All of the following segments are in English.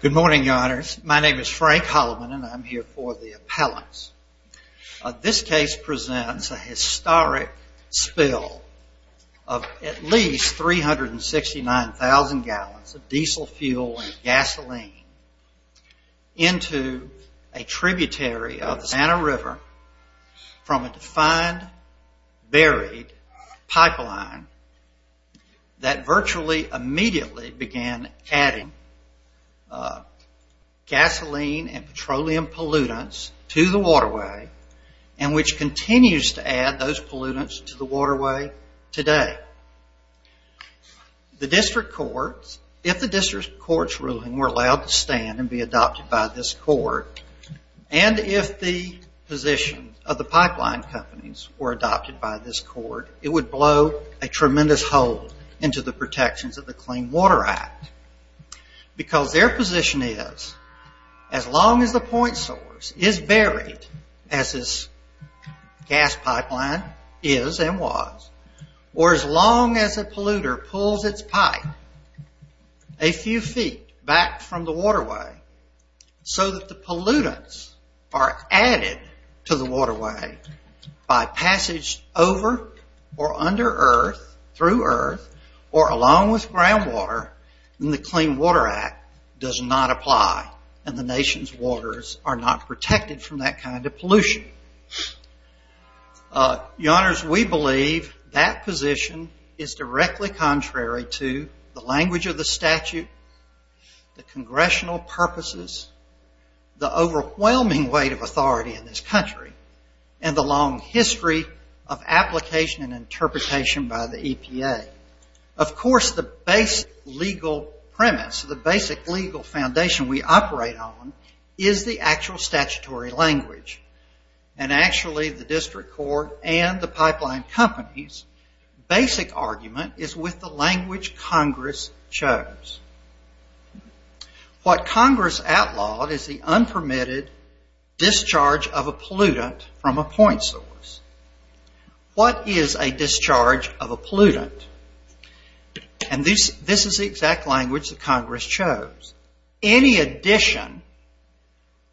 Good morning, your honors. My name is Frank Holloman and I'm here for the appellants. This case presents a historic spill of at least 369,000 gallons of diesel fuel and gasoline into a tributary of the Santa River from a defined buried pipeline that virtually immediately began adding gasoline and petroleum pollutants to the waterway and which continues to add those pollutants to the waterway today. If the district court's ruling were allowed to stand and be adopted by this court and if the position of the pipeline companies were adopted by this court, it would blow a tremendous hole into the protections of the Clean Water Act because their position is as long as the point source is buried, as this gas pipeline is and was, or as long as a polluter pulls its pipe a few feet back from the waterway so that the pollutants are added to the waterway by passage over or under earth, through earth, or along with groundwater, then the Clean Water Act does not apply and the nation's waters are not protected from that kind of pollution. Your honors, we believe that position is directly contrary to the language of the statute, the congressional purposes, the overwhelming weight of authority in this country and the long history of application and interpretation by the EPA. Of course, the basic legal premise, the basic legal foundation we operate on is the actual statutory language and actually the district court and the pipeline companies' basic argument is with the language Congress chose. What Congress outlawed is the unpermitted discharge of a pollutant from a point source. What is a discharge of a pollutant? And this is the exact language that Congress chose. Any addition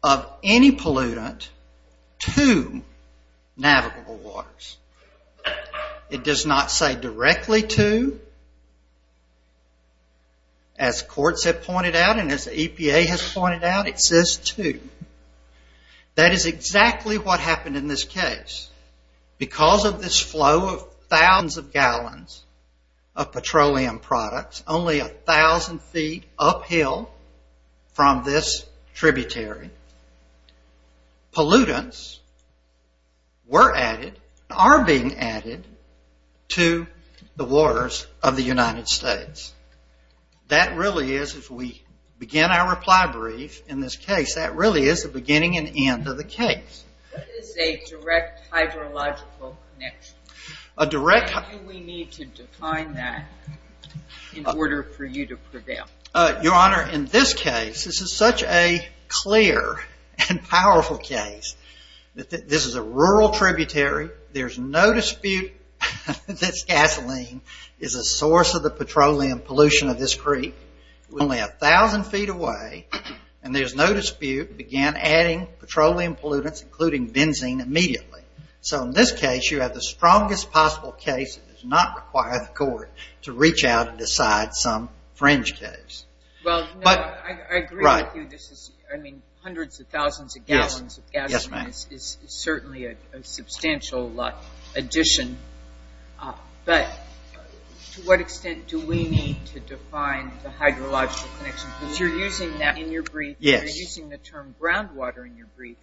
of any pollutant to navigable waters. It does not say directly to, as courts have pointed out and as the EPA has pointed out, it says to. That is exactly what happened in this case. Because of this flow of thousands of gallons of petroleum products, only a thousand feet uphill from this tributary, pollutants were added, are being added to the waters of the United States. That really is, if we begin our reply brief in this case, that really is the beginning and end of the case. What is a direct hydrological connection? How do we need to define that in order for you to prevail? Your Honor, in this case, this is such a clear and powerful case. This is a rural tributary. There is no dispute that gasoline is a source of the petroleum pollution of this creek. Only a thousand feet away, and there is no dispute, began adding petroleum pollutants, including benzene, immediately. So in this case, you have the strongest possible case. It does not require the court to reach out and decide some fringe case. Well, no, I agree with you. This is, I mean, hundreds of thousands of gallons of gasoline is certainly a substantial addition. But to what extent do we need to define the hydrological connection? Because you're using that in your brief. You're using the term groundwater in your brief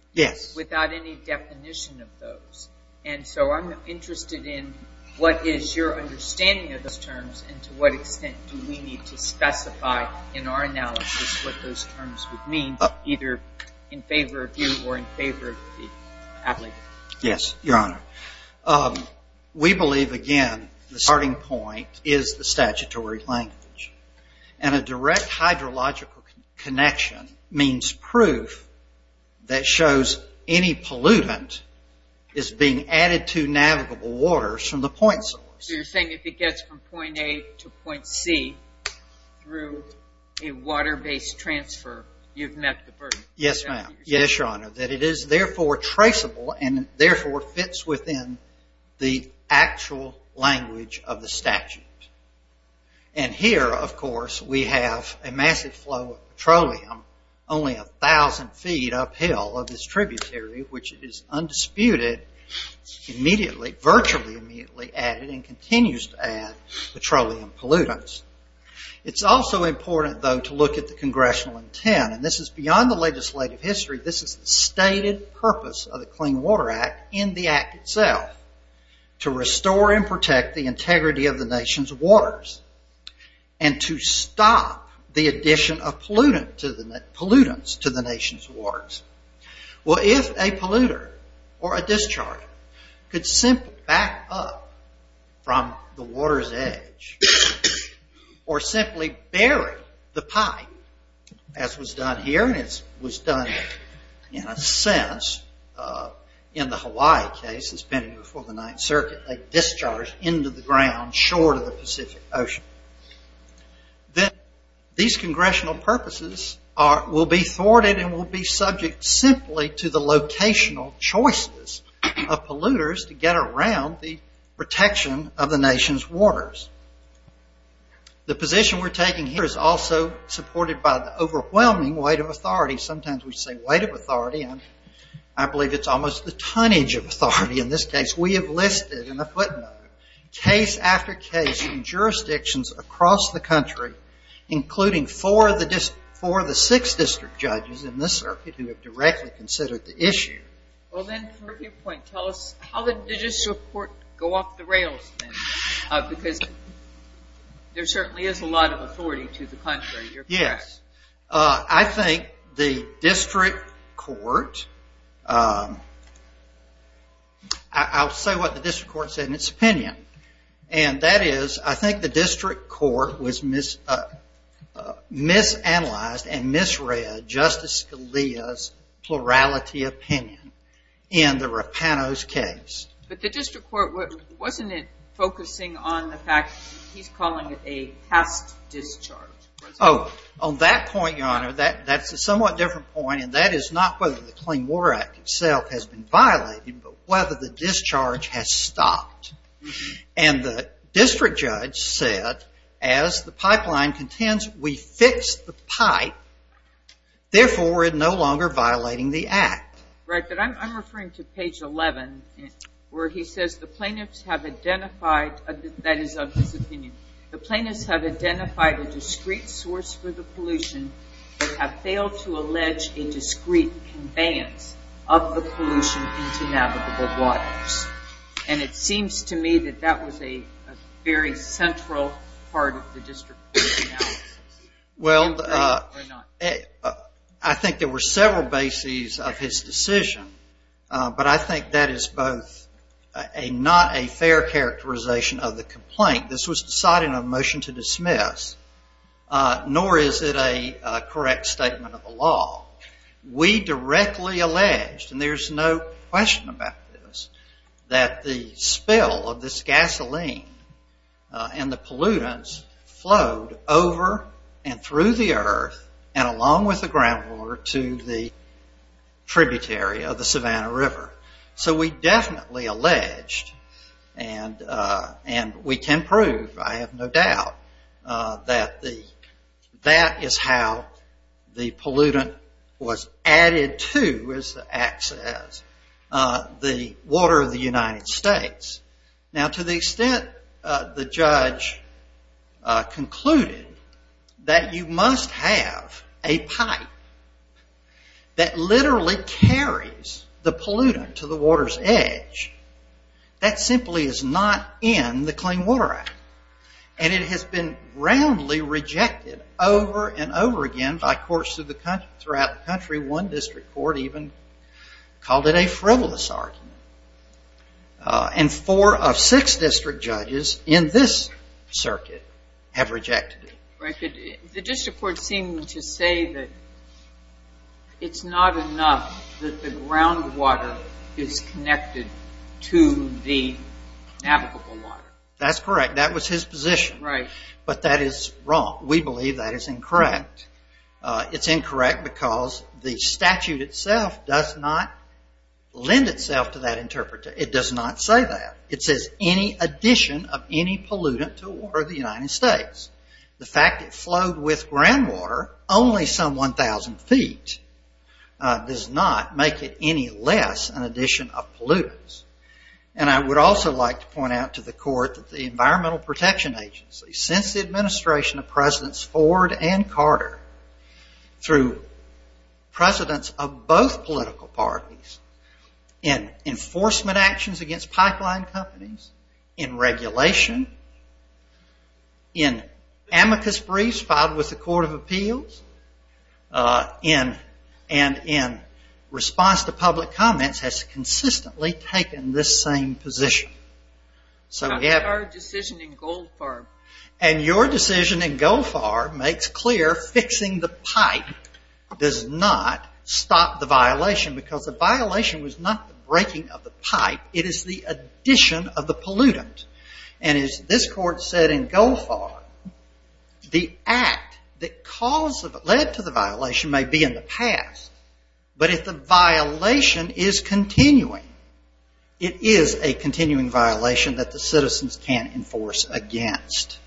without any definition of those. And so I'm interested in what is your understanding of those terms, and to what extent do we need to specify in our analysis what those terms would mean, either in favor of you or in favor of the applicant? Yes, Your Honor. We believe, again, the starting point is the statutory language. And a direct hydrological connection means proof that shows any pollutant is being added to navigable waters from the point source. So you're saying if it gets from point A to point C through a water-based transfer, you've met the burden. Yes, ma'am. Yes, Your Honor. That it is, therefore, traceable and, therefore, fits within the actual language of the statute. And here, of course, we have a massive flow of petroleum only 1,000 feet uphill of this tributary, which is undisputed, immediately, virtually immediately added and continues to add petroleum pollutants. It's also important, though, to look at the congressional intent. And this is beyond the legislative history. This is the stated purpose of the Clean Water Act in the act itself, to restore and protect the integrity of the nation's waters and to stop the addition of pollutants to the nation's waters. Well, if a polluter or a discharger could simply back up from the water's edge or simply bury the pipe, as was done here, and it was done in a sense in the Hawaii case that's been before the Ninth Circuit, a discharge into the ground short of the Pacific Ocean, then these congressional purposes will be thwarted and will be subject simply to the locational choices of polluters to get around the protection of the nation's waters. The position we're taking here is also supported by the overwhelming weight of authority. Sometimes we say weight of authority, and I believe it's almost the tonnage of authority in this case. We have listed in the footnote case after case in jurisdictions across the country, including four of the six district judges in this circuit who have directly considered the issue. Well, then, for your point, tell us how the judicial court go off the rails, because there certainly is a lot of authority to the contrary. Yes, I think the district court, I'll say what the district court said in its opinion, and that is I think the district court was misanalyzed and misread Justice Scalia's plurality opinion in the Rapanos case. But the district court, wasn't it focusing on the fact he's calling it a past discharge? Oh, on that point, Your Honor, that's a somewhat different point, and that is not whether the Clean Water Act itself has been violated, but whether the discharge has stopped. And the district judge said as the pipeline contends we fixed the pipe, therefore we're no longer violating the act. Right, but I'm referring to page 11 where he says the plaintiffs have identified, that is of his opinion, the plaintiffs have identified a discrete source for the pollution but have failed to allege a discrete conveyance of the pollution into navigable waters. And it seems to me that that was a very central part of the district court's analysis. Well, I think there were several bases of his decision, but I think that is both not a fair characterization of the complaint, this was decided in a motion to dismiss, nor is it a correct statement of the law. We directly alleged, and there's no question about this, that the spill of this gasoline and the pollutants flowed over and through the earth and along with the groundwater to the tributary of the Savannah River. So we definitely alleged, and we can prove, I have no doubt, that that is how the pollutant was added to, as the act says, the water of the United States. Now to the extent the judge concluded that you must have a pipe that literally carries the pollutant to the water's edge, that simply is not in the Clean Water Act. And it has been roundly rejected over and over again by courts throughout the country. One district court even called it a frivolous argument. And four of six district judges in this circuit have rejected it. The district court seemed to say that it's not enough that the groundwater is connected to the navigable water. That's correct. That was his position. Right. But that is wrong. We believe that is incorrect. It's incorrect because the statute itself does not lend itself to that interpretation. It does not say that. It says any addition of any pollutant to the water of the United States. The fact it flowed with groundwater only some 1,000 feet does not make it any less an addition of pollutants. And I would also like to point out to the court that the Environmental Protection Agency, since the administration of Presidents Ford and Carter, through presidents of both political parties, in enforcement actions against pipeline companies, in regulation, in amicus briefs filed with the Court of Appeals, and in response to public comments, has consistently taken this same position. That's our decision in Goldfarb. And your decision in Goldfarb makes clear fixing the pipe does not stop the violation because the violation was not the breaking of the pipe. It is the addition of the pollutant. And as this court said in Goldfarb, the act that led to the violation may be in the past, but if the violation is continuing, it is a continuing violation that the citizens can't enforce against.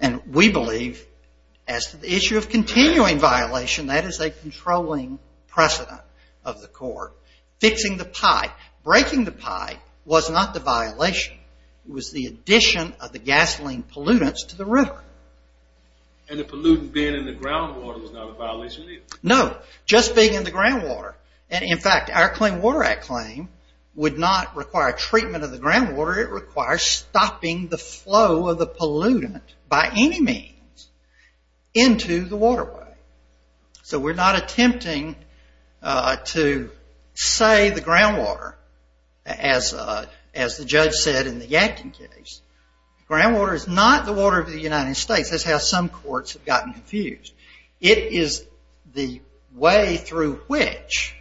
And we believe, as to the issue of continuing violation, that is a controlling precedent of the court. Fixing the pipe, breaking the pipe, was not the violation. It was the addition of the gasoline pollutants to the river. And the pollutant being in the groundwater was not a violation either? No, just being in the groundwater. And in fact, our Clean Water Act claim would not require treatment of the groundwater, it requires stopping the flow of the pollutant, by any means, into the waterway. So we're not attempting to say the groundwater, as the judge said in the Yadkin case. Groundwater is not the water of the United States. That's how some courts have gotten confused. It is the way through which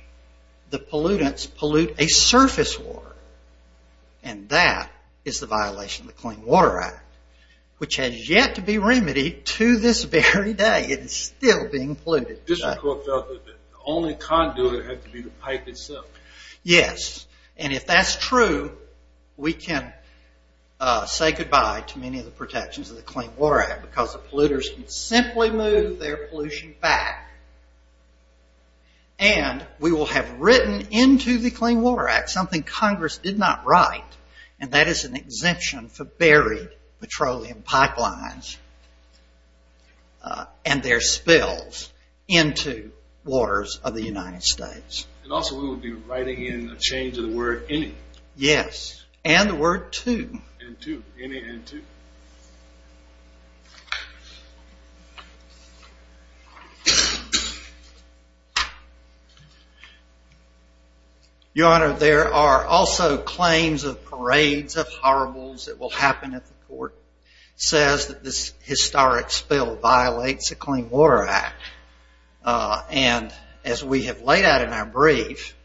the pollutants pollute a surface water. And that is the violation of the Clean Water Act, which has yet to be remedied to this very day. It is still being polluted. District Court felt that the only conduit had to be the pipe itself. Yes, and if that's true, we can say goodbye to many of the protections of the Clean Water Act, because the polluters can simply move their pollution back. And we will have written into the Clean Water Act something Congress did not write, and that is an exemption for buried petroleum pipelines. And their spills into waters of the United States. And also we will be writing in a change of the word any. Yes, and the word to. And to, any and to. Your Honor, there are also claims of parades of horribles that will happen at the court. It says that this historic spill violates the Clean Water Act. And as we have laid out in our brief,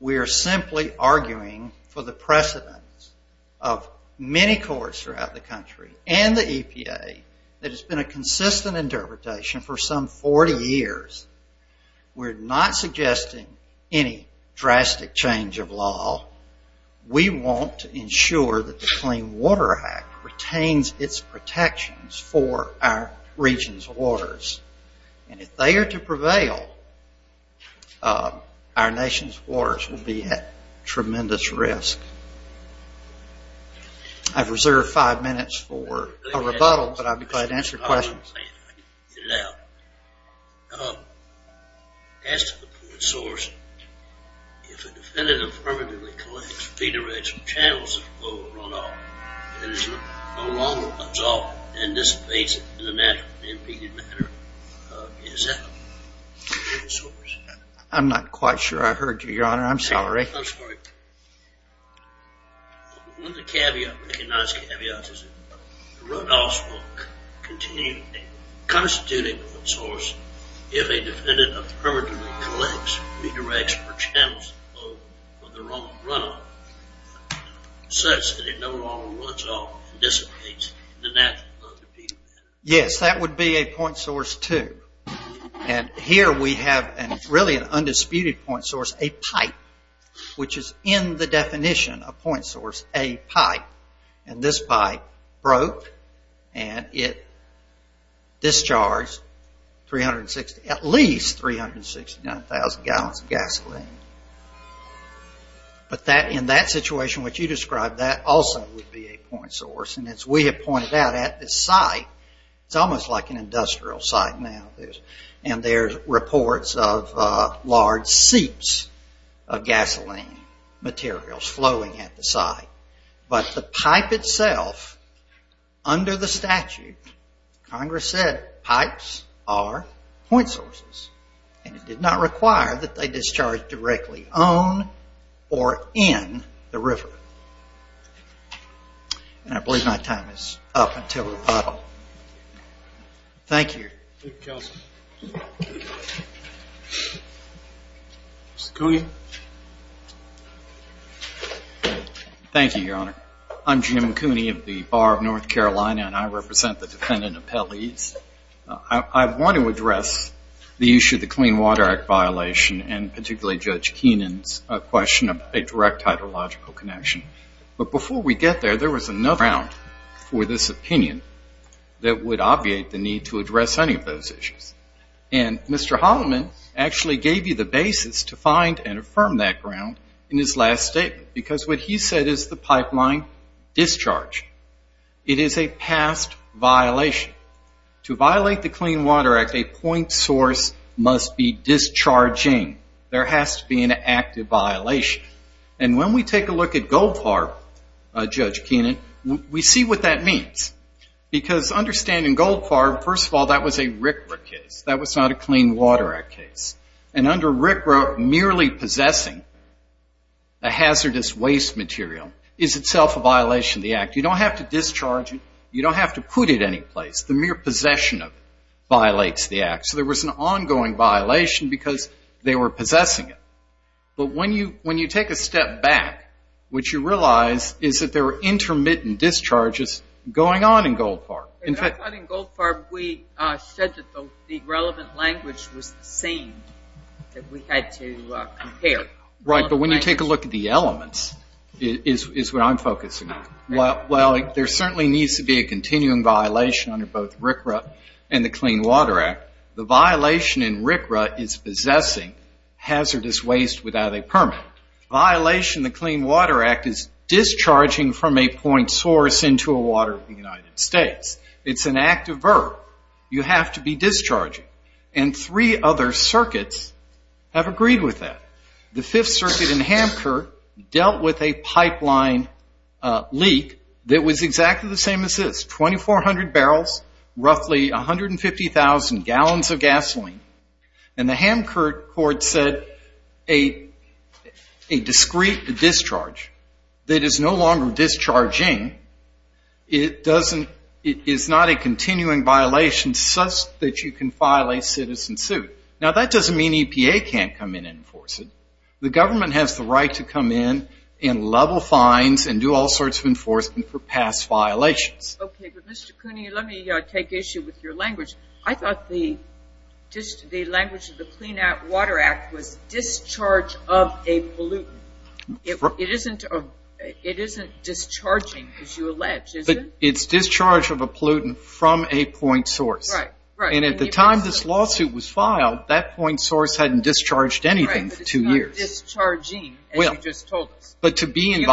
we are simply arguing for the precedence of many courts throughout the country and the EPA that has been a consistent interpretation for some 40 years. We're not suggesting any drastic change of law. We want to ensure that the Clean Water Act retains its protections for our region's waters. And if they are to prevail, our nation's waters will be at tremendous risk. I've reserved five minutes for a rebuttal, but I'd be glad to answer questions. Now, as to the fluid source, if a defendant affirmatively collects feederage from channels that flow at runoff, it is no longer absorbed and dissipates in a natural and impeded manner. Is that the fluid source? I'm not quite sure I heard you, Your Honor. I'm sorry. I'm sorry. One of the caveats, recognized caveats, is that the runoff will continue constituting a fluid source if a defendant affirmatively collects feederage from channels that flow at the wrong runoff such that it no longer runs off and dissipates in a natural and impeded manner. Yes, that would be a point source, too. And here we have really an undisputed point source, a pipe, which is in the definition of point source, a pipe. And this pipe broke and it discharged at least 369,000 gallons of gasoline. But in that situation which you described, that also would be a point source. And as we have pointed out at this site, it's almost like an industrial site now. And there's reports of large seeps of gasoline materials flowing at the site. But the pipe itself, under the statute, Congress said pipes are point sources. And it did not require that they discharge directly on or in the river. And I believe my time is up until rebuttal. Thank you. Thank you, Counsel. Mr. Coogan. Thank you, Your Honor. I'm Jim Cooney of the Bar of North Carolina and I represent the defendant appellees. I want to address the issue of the Clean Water Act violation and particularly Judge Keenan's question of a direct hydrological connection. But before we get there, there was enough ground for this opinion that would obviate the need to address any of those issues. And Mr. Holloman actually gave you the basis to find and affirm that ground in his last statement because what he said is the pipeline discharge. It is a past violation. To violate the Clean Water Act, a point source must be discharging. There has to be an active violation. And when we take a look at Goldfarb, Judge Keenan, we see what that means. Because understanding Goldfarb, first of all, that was a RCRA case. That was not a Clean Water Act case. And under RCRA, merely possessing a hazardous waste material is itself a violation of the Act. You don't have to discharge it. You don't have to put it anyplace. The mere possession of it violates the Act. So there was an ongoing violation because they were possessing it. But when you take a step back, what you realize is that there were intermittent discharges going on in Goldfarb. I thought in Goldfarb we said that the relevant language was the same that we had to compare. Right, but when you take a look at the elements is what I'm focusing on. Well, there certainly needs to be a continuing violation under both RCRA and the Clean Water Act. The violation in RCRA is possessing hazardous waste without a permit. The violation in the Clean Water Act is discharging from a point source into a water in the United States. It's an active verb. You have to be discharging. And three other circuits have agreed with that. The Fifth Circuit in Hamcourt dealt with a pipeline leak that was exactly the same as this. 2,400 barrels, roughly 150,000 gallons of gasoline. And the Hamcourt court said a discrete discharge that is no longer discharging is not a continuing violation such that you can file a citizen suit. Now, that doesn't mean EPA can't come in and enforce it. The government has the right to come in and level fines and do all sorts of enforcement for past violations. Okay, but Mr. Cooney, let me take issue with your language. I thought the language of the Clean Water Act was discharge of a pollutant. It isn't discharging, as you allege, is it? It's discharge of a pollutant from a point source. Right, right. And at the time this lawsuit was filed, that point source hadn't discharged anything for two years. Right, but it's not discharging, as you just told us. But to be in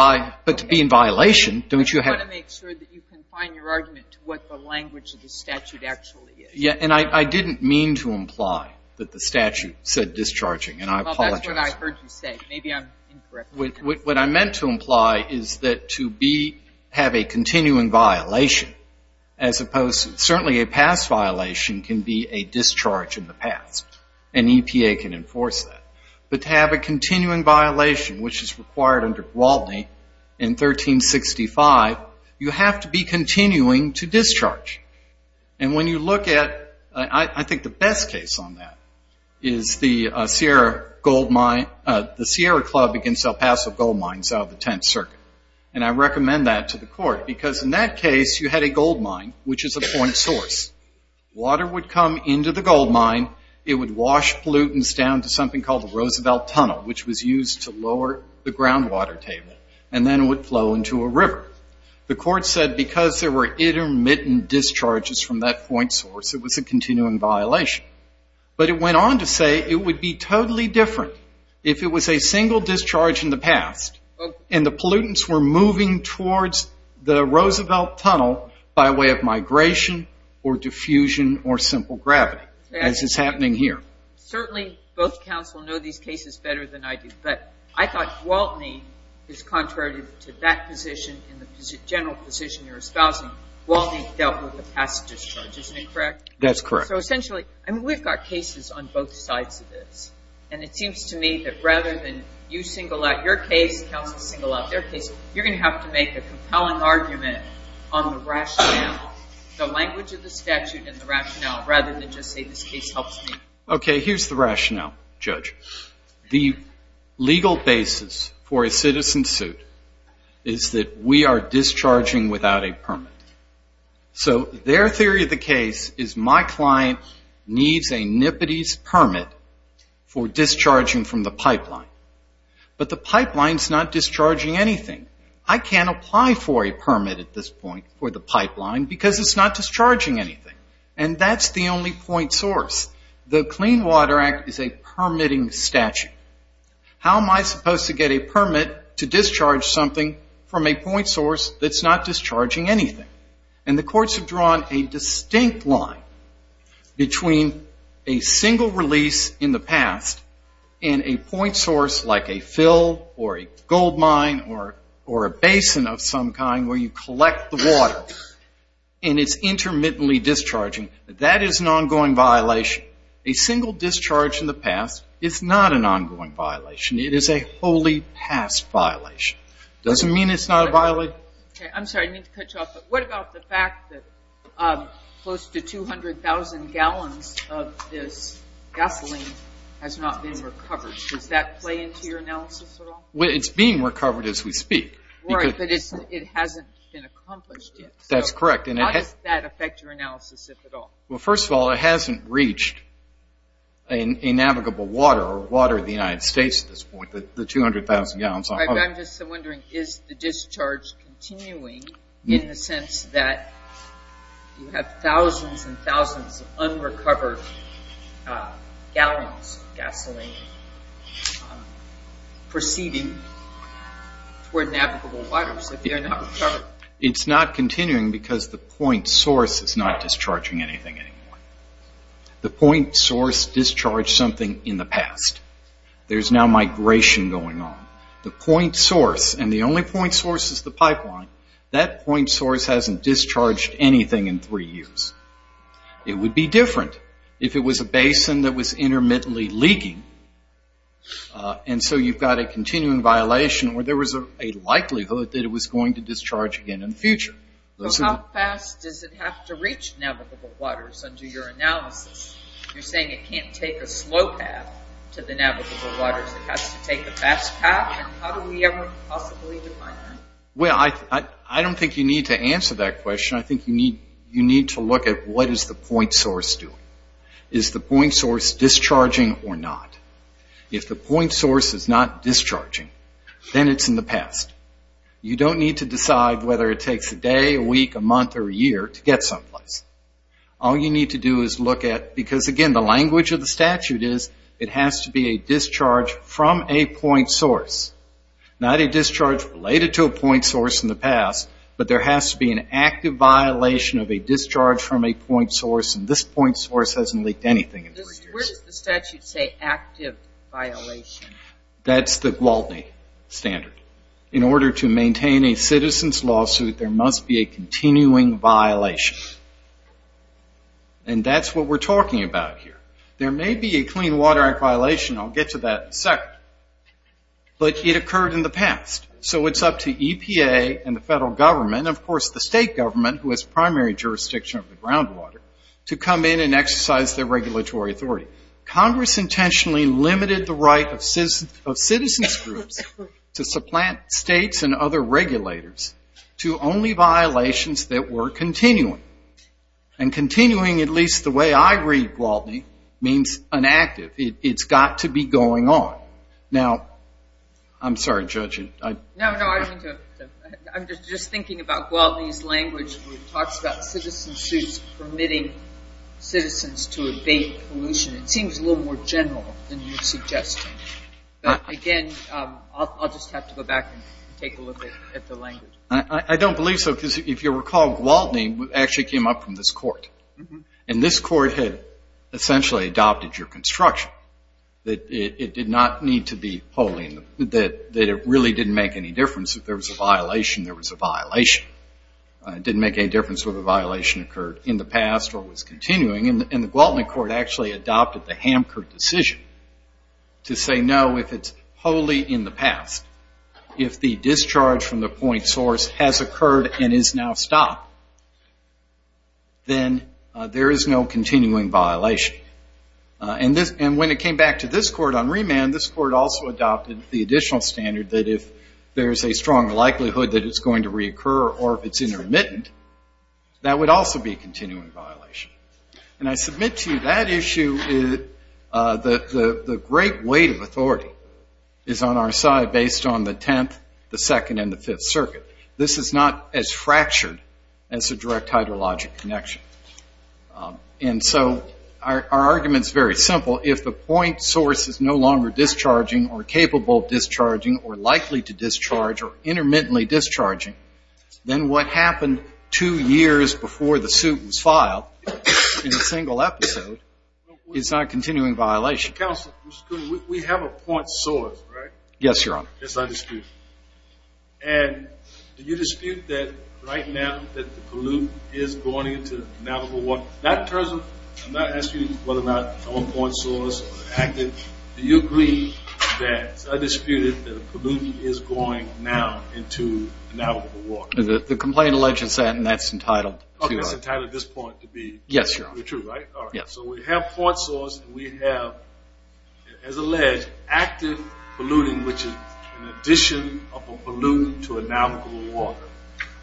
violation, don't you have to? You want to make sure that you confine your argument to what the language of the statute actually is. Yeah, and I didn't mean to imply that the statute said discharging, and I apologize. That's what I heard you say. Maybe I'm incorrect. What I meant to imply is that to have a continuing violation, as opposed to certainly a past violation can be a discharge in the past, and EPA can enforce that. But to have a continuing violation, which is required under Gwaldney in 1365, you have to be continuing to discharge. And when you look at, I think the best case on that, is the Sierra Club against El Paso gold mines out of the Tenth Circuit. And I recommend that to the court, because in that case you had a gold mine, which is a point source. Water would come into the gold mine. It would wash pollutants down to something called the Roosevelt Tunnel, which was used to lower the groundwater table, and then it would flow into a river. The court said because there were intermittent discharges from that point source, it was a continuing violation. But it went on to say it would be totally different if it was a single discharge in the past, and the pollutants were moving towards the Roosevelt Tunnel by way of migration or diffusion or simple gravity, as is happening here. Certainly both counsel know these cases better than I do, but I thought Gwaldney is contrary to that position and the general position you're espousing. Gwaldney dealt with the past discharge. Isn't that correct? That's correct. So essentially we've got cases on both sides of this, and it seems to me that rather than you single out your case, counsel single out their case, you're going to have to make a compelling argument on the rationale, the language of the statute and the rationale, rather than just say this case helps me. Okay, here's the rationale, Judge. The legal basis for a citizen suit is that we are discharging without a permit. So their theory of the case is my client needs a nippity's permit for discharging from the pipeline, but the pipeline's not discharging anything. I can't apply for a permit at this point for the pipeline because it's not discharging anything, and that's the only point source. The Clean Water Act is a permitting statute. How am I supposed to get a permit to discharge something from a point source that's not discharging anything? And the courts have drawn a distinct line between a single release in the past and a point source like a fill or a gold mine or a basin of some kind where you collect the water and it's intermittently discharging. That is an ongoing violation. A single discharge in the past is not an ongoing violation. It is a wholly past violation. It doesn't mean it's not a violation. Okay, I'm sorry. I need to cut you off, but what about the fact that close to 200,000 gallons of this gasoline has not been recovered? Does that play into your analysis at all? It's being recovered as we speak. Right, but it hasn't been accomplished yet. That's correct. How does that affect your analysis, if at all? Well, first of all, it hasn't reached a navigable water or water of the United States at this point, the 200,000 gallons. I'm just wondering, is the discharge continuing in the sense that you have thousands and thousands of unrecovered gallons of gasoline proceeding toward navigable waters if they're not recovered? It's not continuing because the point source is not discharging anything anymore. The point source discharged something in the past. There's now migration going on. The point source, and the only point source is the pipeline, that point source hasn't discharged anything in three years. It would be different if it was a basin that was intermittently leaking, and so you've got a continuing violation where there was a likelihood that it was going to discharge again in the future. How fast does it have to reach navigable waters under your analysis? You're saying it can't take a slow path to the navigable waters. It has to take the fast path? How do we ever possibly define that? Well, I don't think you need to answer that question. I think you need to look at what is the point source doing. Is the point source discharging or not? If the point source is not discharging, then it's in the past. You don't need to decide whether it takes a day, a week, a month, or a year to get someplace. All you need to do is look at, because, again, the language of the statute is it has to be a discharge from a point source, not a discharge related to a point source in the past, but there has to be an active violation of a discharge from a point source, and this point source hasn't leaked anything in three years. Where does the statute say active violation? That's the Gwaltney standard. In order to maintain a citizen's lawsuit, there must be a continuing violation, and that's what we're talking about here. There may be a Clean Water Act violation. I'll get to that in a second, but it occurred in the past, so it's up to EPA and the federal government, and, of course, the state government, who has primary jurisdiction of the groundwater, to come in and exercise their regulatory authority. Congress intentionally limited the right of citizens groups to supplant states and other regulators to only violations that were continuing, and continuing, at least the way I read Gwaltney, means inactive. It's got to be going on. Now, I'm sorry, Judge. No, no. I'm just thinking about Gwaltney's language where it talks about citizen suits permitting citizens to evade pollution. It seems a little more general than you're suggesting, but, again, I'll just have to go back and take a look at the language. I don't believe so, because if you recall, Gwaltney actually came up from this court, and this court had essentially adopted your construction, that it did not need to be wholly, that it really didn't make any difference. If there was a violation, there was a violation. It didn't make any difference whether the violation occurred in the past or was continuing, and the Gwaltney court actually adopted the Hamker decision to say, no, if it's wholly in the past, if the discharge from the point source has occurred and is now stopped, then there is no continuing violation. And when it came back to this court on remand, this court also adopted the additional standard that if there's a strong likelihood that it's going to reoccur or if it's intermittent, that would also be a continuing violation. And I submit to you that issue, the great weight of authority is on our side based on the Tenth, the Second, and the Fifth Circuit. This is not as fractured as a direct hydrologic connection. And so our argument is very simple. If the point source is no longer discharging or capable of discharging or likely to discharge or intermittently discharging, then what happened two years before the suit was filed in a single episode is not a continuing violation. Counsel, we have a point source, right? Yes, Your Honor. Yes, I dispute. And do you dispute that right now that the pollute is going into Navajo water? In that terms, I'm not asking you whether or not the point source acted. Do you agree that I disputed that the pollutant is going now into Navajo water? The complaint alleges that and that's entitled. Okay, it's entitled at this point to be true, right? Yes, Your Honor. All right. So we have point source and we have, as alleged, active polluting, which is an addition of a pollutant to a Navajo water.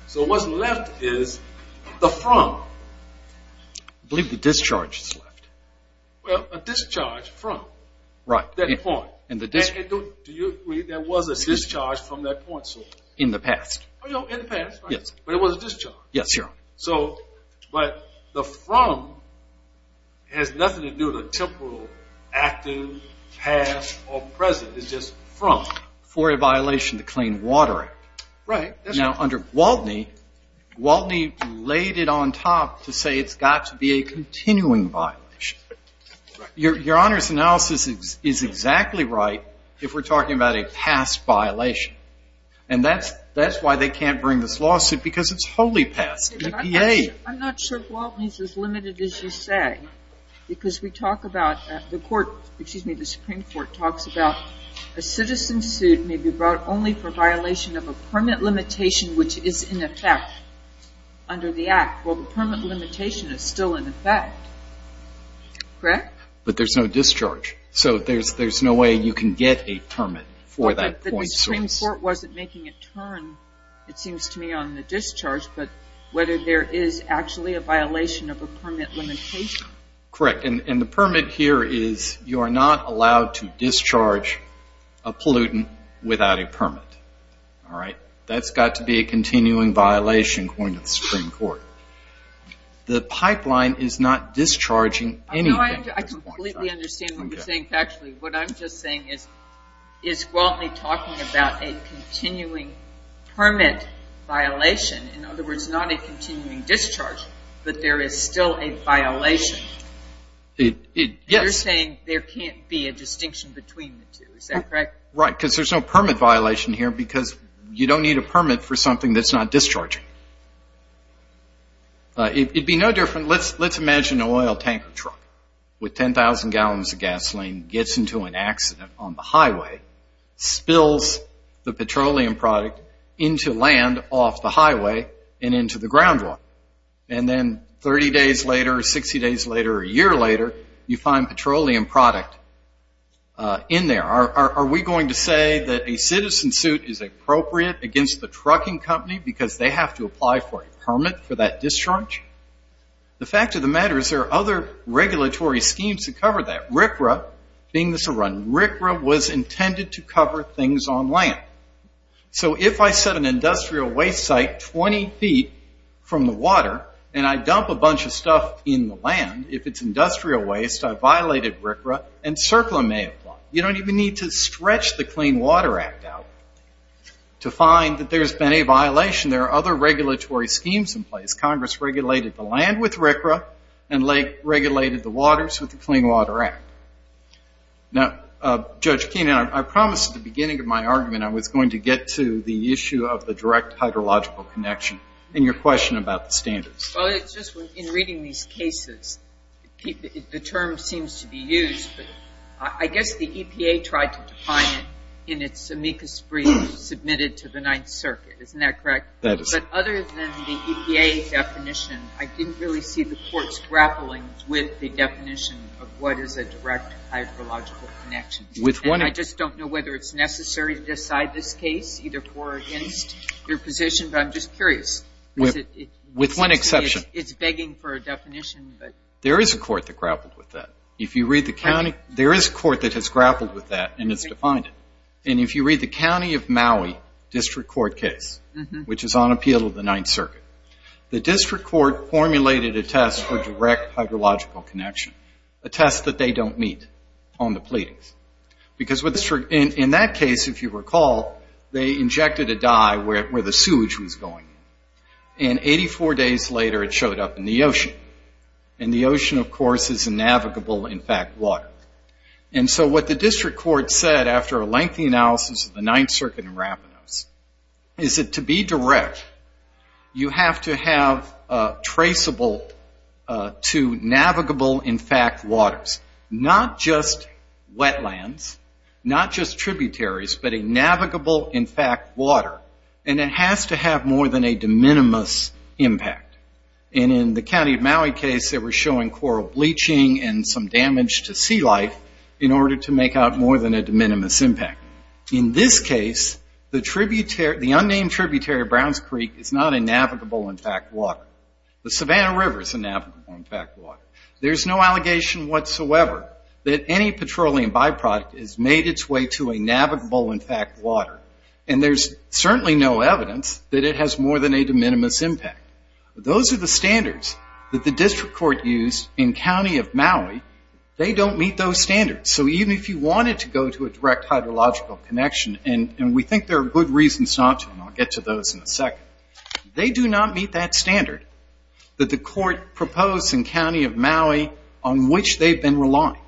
So what's left is the front. I believe the discharge is left. Well, a discharge from that point. Do you agree there was a discharge from that point source? In the past. In the past, right. But it was a discharge. Yes, Your Honor. But the from has nothing to do with a temporal, active, past, or present. It's just from. For a violation of the Clean Water Act. Right. Now, under Gwaltney, Gwaltney laid it on top to say it's got to be a continuing violation. Right. Your Honor's analysis is exactly right if we're talking about a past violation. And that's why they can't bring this lawsuit because it's wholly past EPA. I'm not sure Gwaltney is as limited as you say because we talk about the Supreme Court talks about a citizen sued may be brought only for violation of a permanent limitation which is in effect under the act. Well, the permanent limitation is still in effect. Correct? But there's no discharge. So there's no way you can get a permit for that point source. But the Supreme Court wasn't making a turn, it seems to me, on the discharge. But whether there is actually a violation of a permanent limitation. Correct. permit. All right. That's got to be a continuing violation according to the Supreme Court. The pipeline is not discharging anything. I completely understand what you're saying. Actually, what I'm just saying is Gwaltney talking about a continuing permit violation. In other words, not a continuing discharge. But there is still a violation. You're saying there can't be a distinction between the two. Is that correct? Right. Because there's no permit violation here because you don't need a permit for something that's not discharging. It would be no different. Let's imagine an oil tanker truck with 10,000 gallons of gasoline gets into an accident on the highway, spills the petroleum product into land off the highway and into the ground water. And then 30 days later or 60 days later or a year later, you find petroleum product in there. Are we going to say that a citizen suit is appropriate against the trucking company because they have to apply for a permit for that discharge? The fact of the matter is there are other regulatory schemes to cover that, RCRA being the surrounding. RCRA was intended to cover things on land. So if I set an industrial waste site 20 feet from the water and I dump a bunch of stuff in the land, if it's industrial waste, I violated RCRA and CERCLA may apply. You don't even need to stretch the Clean Water Act out to find that there's been a violation. There are other regulatory schemes in place. Congress regulated the land with RCRA and regulated the waters with the Clean Water Act. Now, Judge Keenan, I promised at the beginning of my argument I was going to get to the issue of the direct hydrological connection in your question about the standards. Well, it's just in reading these cases, the term seems to be used. But I guess the EPA tried to define it in its amicus brief submitted to the Ninth Circuit. Isn't that correct? That is. But other than the EPA definition, I didn't really see the courts grappling with the definition of what is a direct hydrological connection. And I just don't know whether it's necessary to decide this case, either for or against your position. But I'm just curious. With one exception. It's begging for a definition. There is a court that grappled with that. There is a court that has grappled with that and has defined it. And if you read the county of Maui district court case, which is on appeal of the Ninth Circuit, the district court formulated a test for direct hydrological connection, a test that they don't meet on the pleadings. Because in that case, if you recall, they injected a dye where the sewage was going. And 84 days later it showed up in the ocean. And the ocean, of course, is a navigable, in fact, water. And so what the district court said, after a lengthy analysis of the Ninth Circuit and Ravanos, is that to be direct, you have to have traceable to navigable, in fact, waters. Not just wetlands. Not just tributaries. But a navigable, in fact, water. And it has to have more than a de minimis impact. And in the county of Maui case, they were showing coral bleaching and some damage to sea life in order to make out more than a de minimis impact. In this case, the unnamed tributary of Brown's Creek is not a navigable, in fact, water. The Savannah River is a navigable, in fact, water. There's no allegation whatsoever that any petroleum byproduct has made its way to a navigable, in fact, water. And there's certainly no evidence that it has more than a de minimis impact. Those are the standards that the district court used in county of Maui. They don't meet those standards. So even if you wanted to go to a direct hydrological connection, and we think there are good reasons not to, and I'll get to those in a second, they do not meet that standard that the court proposed in county of Maui on which they've been relying.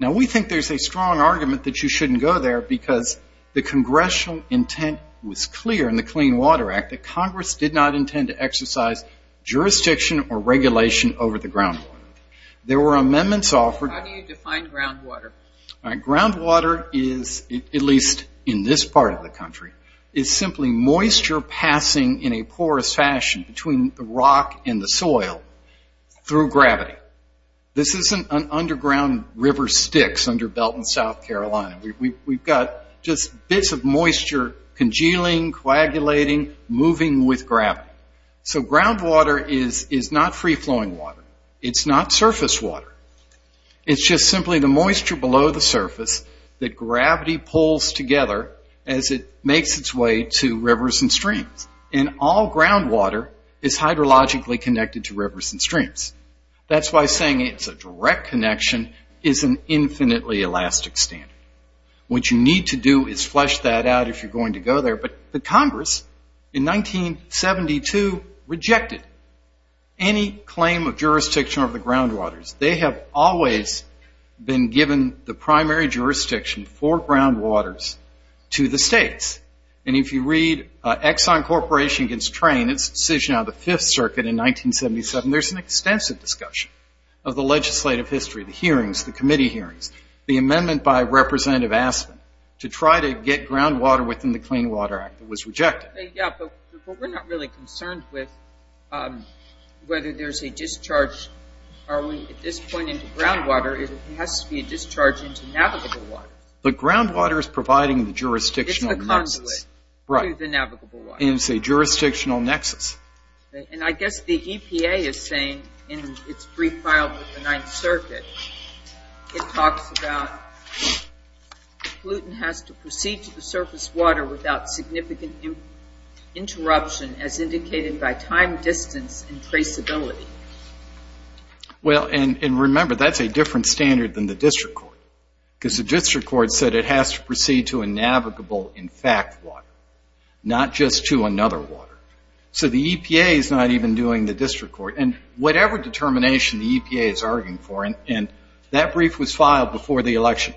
Now, we think there's a strong argument that you shouldn't go there because the congressional intent was clear in the Clean Water Act that Congress did not intend to exercise jurisdiction or regulation over the groundwater. There were amendments offered. How do you define groundwater? Groundwater is, at least in this part of the country, is simply moisture passing in a porous fashion between the rock and the soil through gravity. This isn't an underground river Styx under Belton, South Carolina. We've got just bits of moisture congealing, coagulating, moving with gravity. So groundwater is not free-flowing water. It's not surface water. It's just simply the moisture below the surface that gravity pulls together as it makes its way to rivers and streams. And all groundwater is hydrologically connected to rivers and streams. That's why saying it's a direct connection is an infinitely elastic standard. What you need to do is flesh that out if you're going to go there. But the Congress in 1972 rejected any claim of jurisdiction over the groundwaters. They have always been given the primary jurisdiction for groundwaters to the states. And if you read Exxon Corporation against Trane, its decision out of the Fifth Circuit in 1977, there's an extensive discussion of the legislative history, the hearings, the committee hearings, the amendment by Representative Aspin to try to get groundwater within the Clean Water Act that was rejected. Yeah, but we're not really concerned with whether there's a discharge. Are we at this point into groundwater? It has to be a discharge into navigable water. But groundwater is providing the jurisdictional nexus. It's a conduit to the navigable water. And it's a jurisdictional nexus. And I guess the EPA is saying in its brief filed with the Ninth Circuit, it talks about gluten has to proceed to the surface water without significant interruption as indicated by time, distance, and traceability. Well, and remember, that's a different standard than the district court because the district court said it has to proceed to a navigable, in fact, water, not just to another water. So the EPA is not even doing the district court. And whatever determination the EPA is arguing for, and that brief was filed before the election.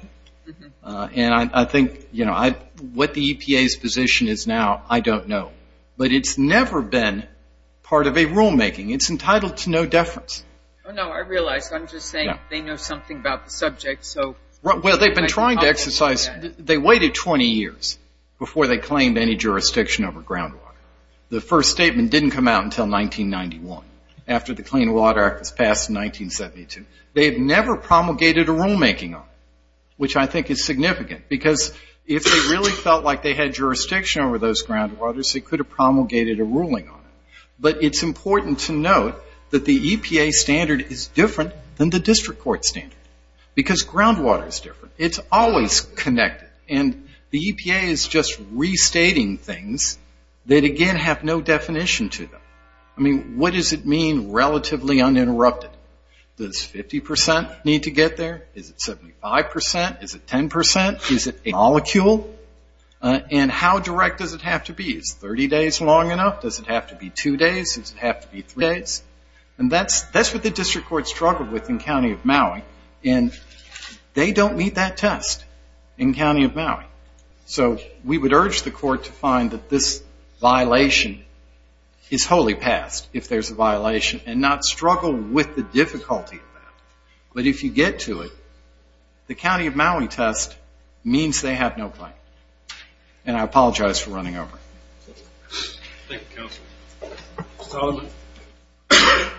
And I think, you know, what the EPA's position is now, I don't know. But it's never been part of a rulemaking. It's entitled to no deference. Oh, no, I realize. I'm just saying they know something about the subject. Well, they've been trying to exercise. They waited 20 years before they claimed any jurisdiction over groundwater. The first statement didn't come out until 1991 after the Clean Water Act was passed in 1972. They have never promulgated a rulemaking on it, which I think is significant because if they really felt like they had jurisdiction over those groundwaters, they could have promulgated a ruling on it. But it's important to note that the EPA standard is different than the district court standard because groundwater is different. It's always connected. And the EPA is just restating things that, again, have no definition to them. I mean, what does it mean relatively uninterrupted? Does 50% need to get there? Is it 75%? Is it 10%? Is it a molecule? And how direct does it have to be? Is 30 days long enough? Does it have to be two days? Does it have to be three days? And that's what the district court struggled with in County of Maui. And they don't meet that test in County of Maui. So we would urge the court to find that this violation is wholly passed if there's a violation and not struggle with the difficulty of that. But if you get to it, the County of Maui test means they have no claim. And I apologize for running over. Thank you, Counsel. Mr. Solomon.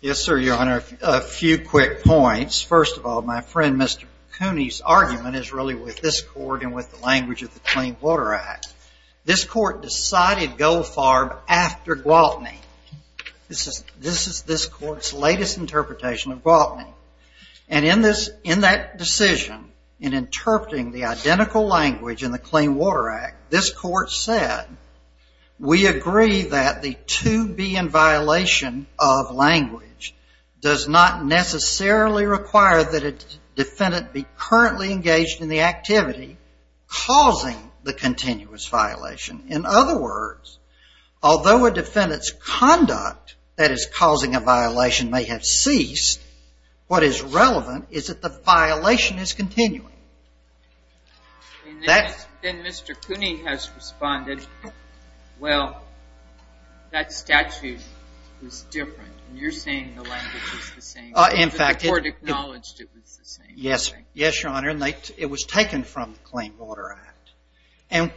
Yes, sir, Your Honor. A few quick points. First of all, my friend Mr. Cooney's argument is really with this court and with the language of the Clean Water Act. This court decided Gold Farm after Gwaltney. This is this court's latest interpretation of Gwaltney. And in that decision, in interpreting the identical language in the Clean Water Act, this court said we agree that the to be in violation of language does not necessarily require that a defendant be currently engaged in the activity causing the continuous violation. In other words, although a defendant's conduct that is causing a violation may have ceased, what is relevant is that the violation is continuing. Then Mr. Cooney has responded, well, that statute is different. You're saying the language is the same. In fact, the court acknowledged it was the same. Yes, Your Honor. It was taken from the Clean Water Act. And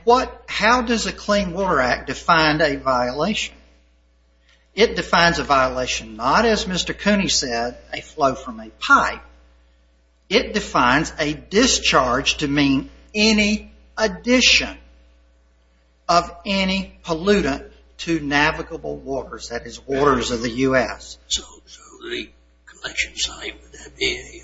how does the Clean Water Act define a violation? It defines a violation not, as Mr. Cooney said, a flow from a pipe. It defines a discharge to mean any addition of any pollutant to navigable waters. That is waters of the U.S. So the collection site would that be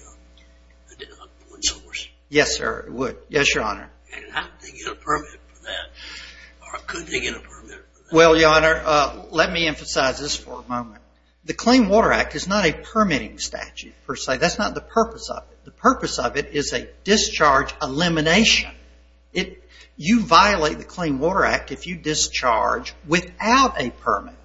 a point source? Yes, sir, it would. Yes, Your Honor. And how do they get a permit for that? Or could they get a permit for that? Well, Your Honor, let me emphasize this for a moment. The Clean Water Act is not a permitting statute per se. That's not the purpose of it. The purpose of it is a discharge elimination. You violate the Clean Water Act if you discharge without a permit.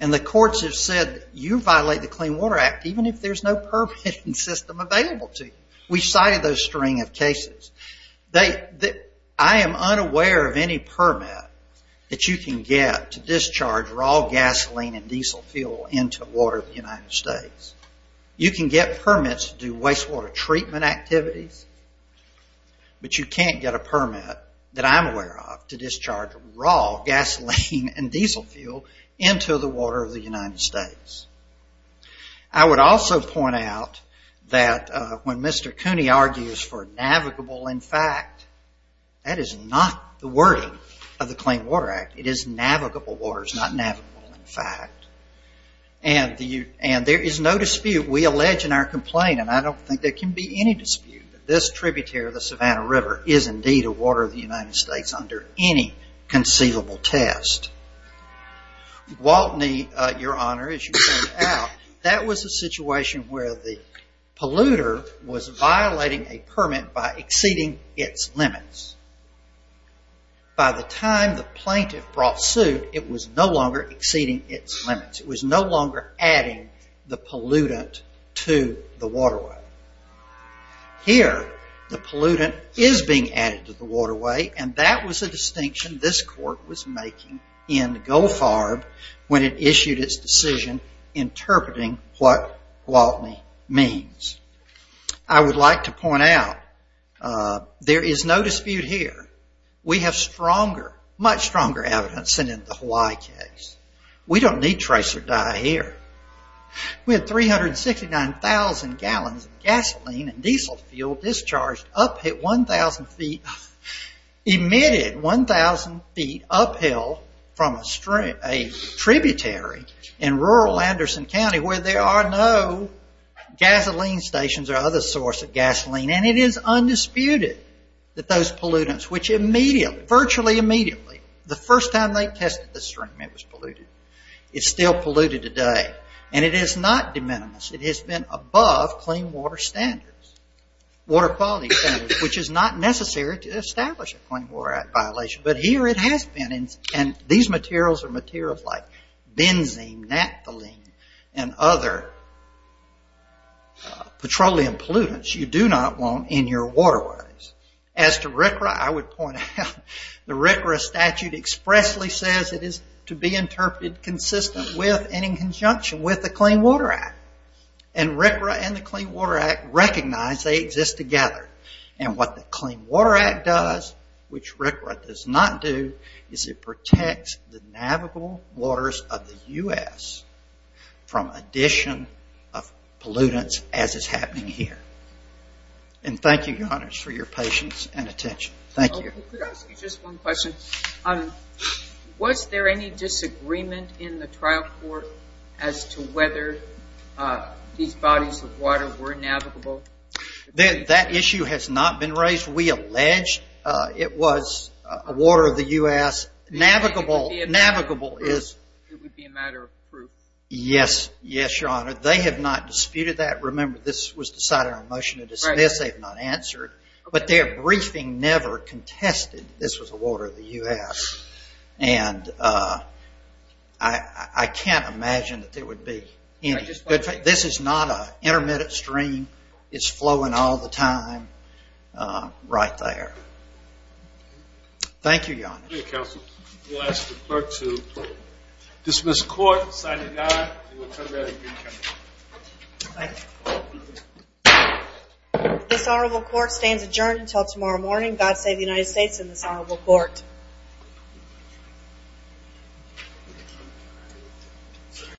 And the courts have said you violate the Clean Water Act even if there's no permitting system available to you. We cited those string of cases. I am unaware of any permit that you can get to discharge raw gasoline and diesel fuel into water of the United States. You can get permits to do wastewater treatment activities, but you can't get a permit that I'm aware of to discharge raw gasoline and diesel fuel into the water of the United States. I would also point out that when Mr. Cooney argues for navigable in fact, that is not the wording of the Clean Water Act. It is navigable waters, not navigable in fact. And there is no dispute. We allege in our complaint, and I don't think there can be any dispute, that this tributary of the Savannah River is indeed a water of the United States under any conceivable test. Waltney, Your Honor, as you pointed out, that was a situation where the polluter was violating a permit by exceeding its limits. By the time the plaintiff brought suit, it was no longer exceeding its limits. It was no longer adding the pollutant to the waterway. Here, the pollutant is being added to the waterway, and that was a distinction this court was making in Goldfarb when it issued its decision interpreting what Waltney means. I would like to point out, there is no dispute here. We have stronger, much stronger evidence than in the Hawaii case. We don't need trace or die here. We had 369,000 gallons of gasoline and diesel fuel discharged up at 1,000 feet, emitted 1,000 feet uphill from a tributary in rural Anderson County where there are no gasoline stations or other source of gasoline, and it is undisputed that those pollutants, which immediately, virtually immediately, the first time they tested the stream, it was polluted. It's still polluted today, and it is not de minimis. It has been above clean water standards, water quality standards, which is not necessary to establish a clean water violation, but here it has been, and these materials are materials like benzene, naphthalene, and other petroleum pollutants you do not want in your waterways. As to RCRA, I would point out the RCRA statute expressly says it is to be interpreted consistent with and in conjunction with the Clean Water Act, and RCRA and the Clean Water Act recognize they exist together, and what the Clean Water Act does, which RCRA does not do, is it protects the navigable waters of the U.S. from addition of pollutants as is happening here. And thank you, Johannes, for your patience and attention. Thank you. Could I ask you just one question? Was there any disagreement in the trial court as to whether these bodies of water were navigable? That issue has not been raised. We allege it was a water of the U.S. Navigable is... It would be a matter of proof. Yes, your Honor. They have not disputed that. Remember, this was decided on a motion to dismiss. They have not answered. But their briefing never contested this was a water of the U.S., and I can't imagine that there would be any. This is not an intermittent stream. It's flowing all the time right there. Thank you, Johannes. Thank you, counsel. We'll ask the clerk to dismiss court, sign it down, and we'll turn it back to you, counsel. Thank you. This honorable court stands adjourned until tomorrow morning. God save the United States and this honorable court.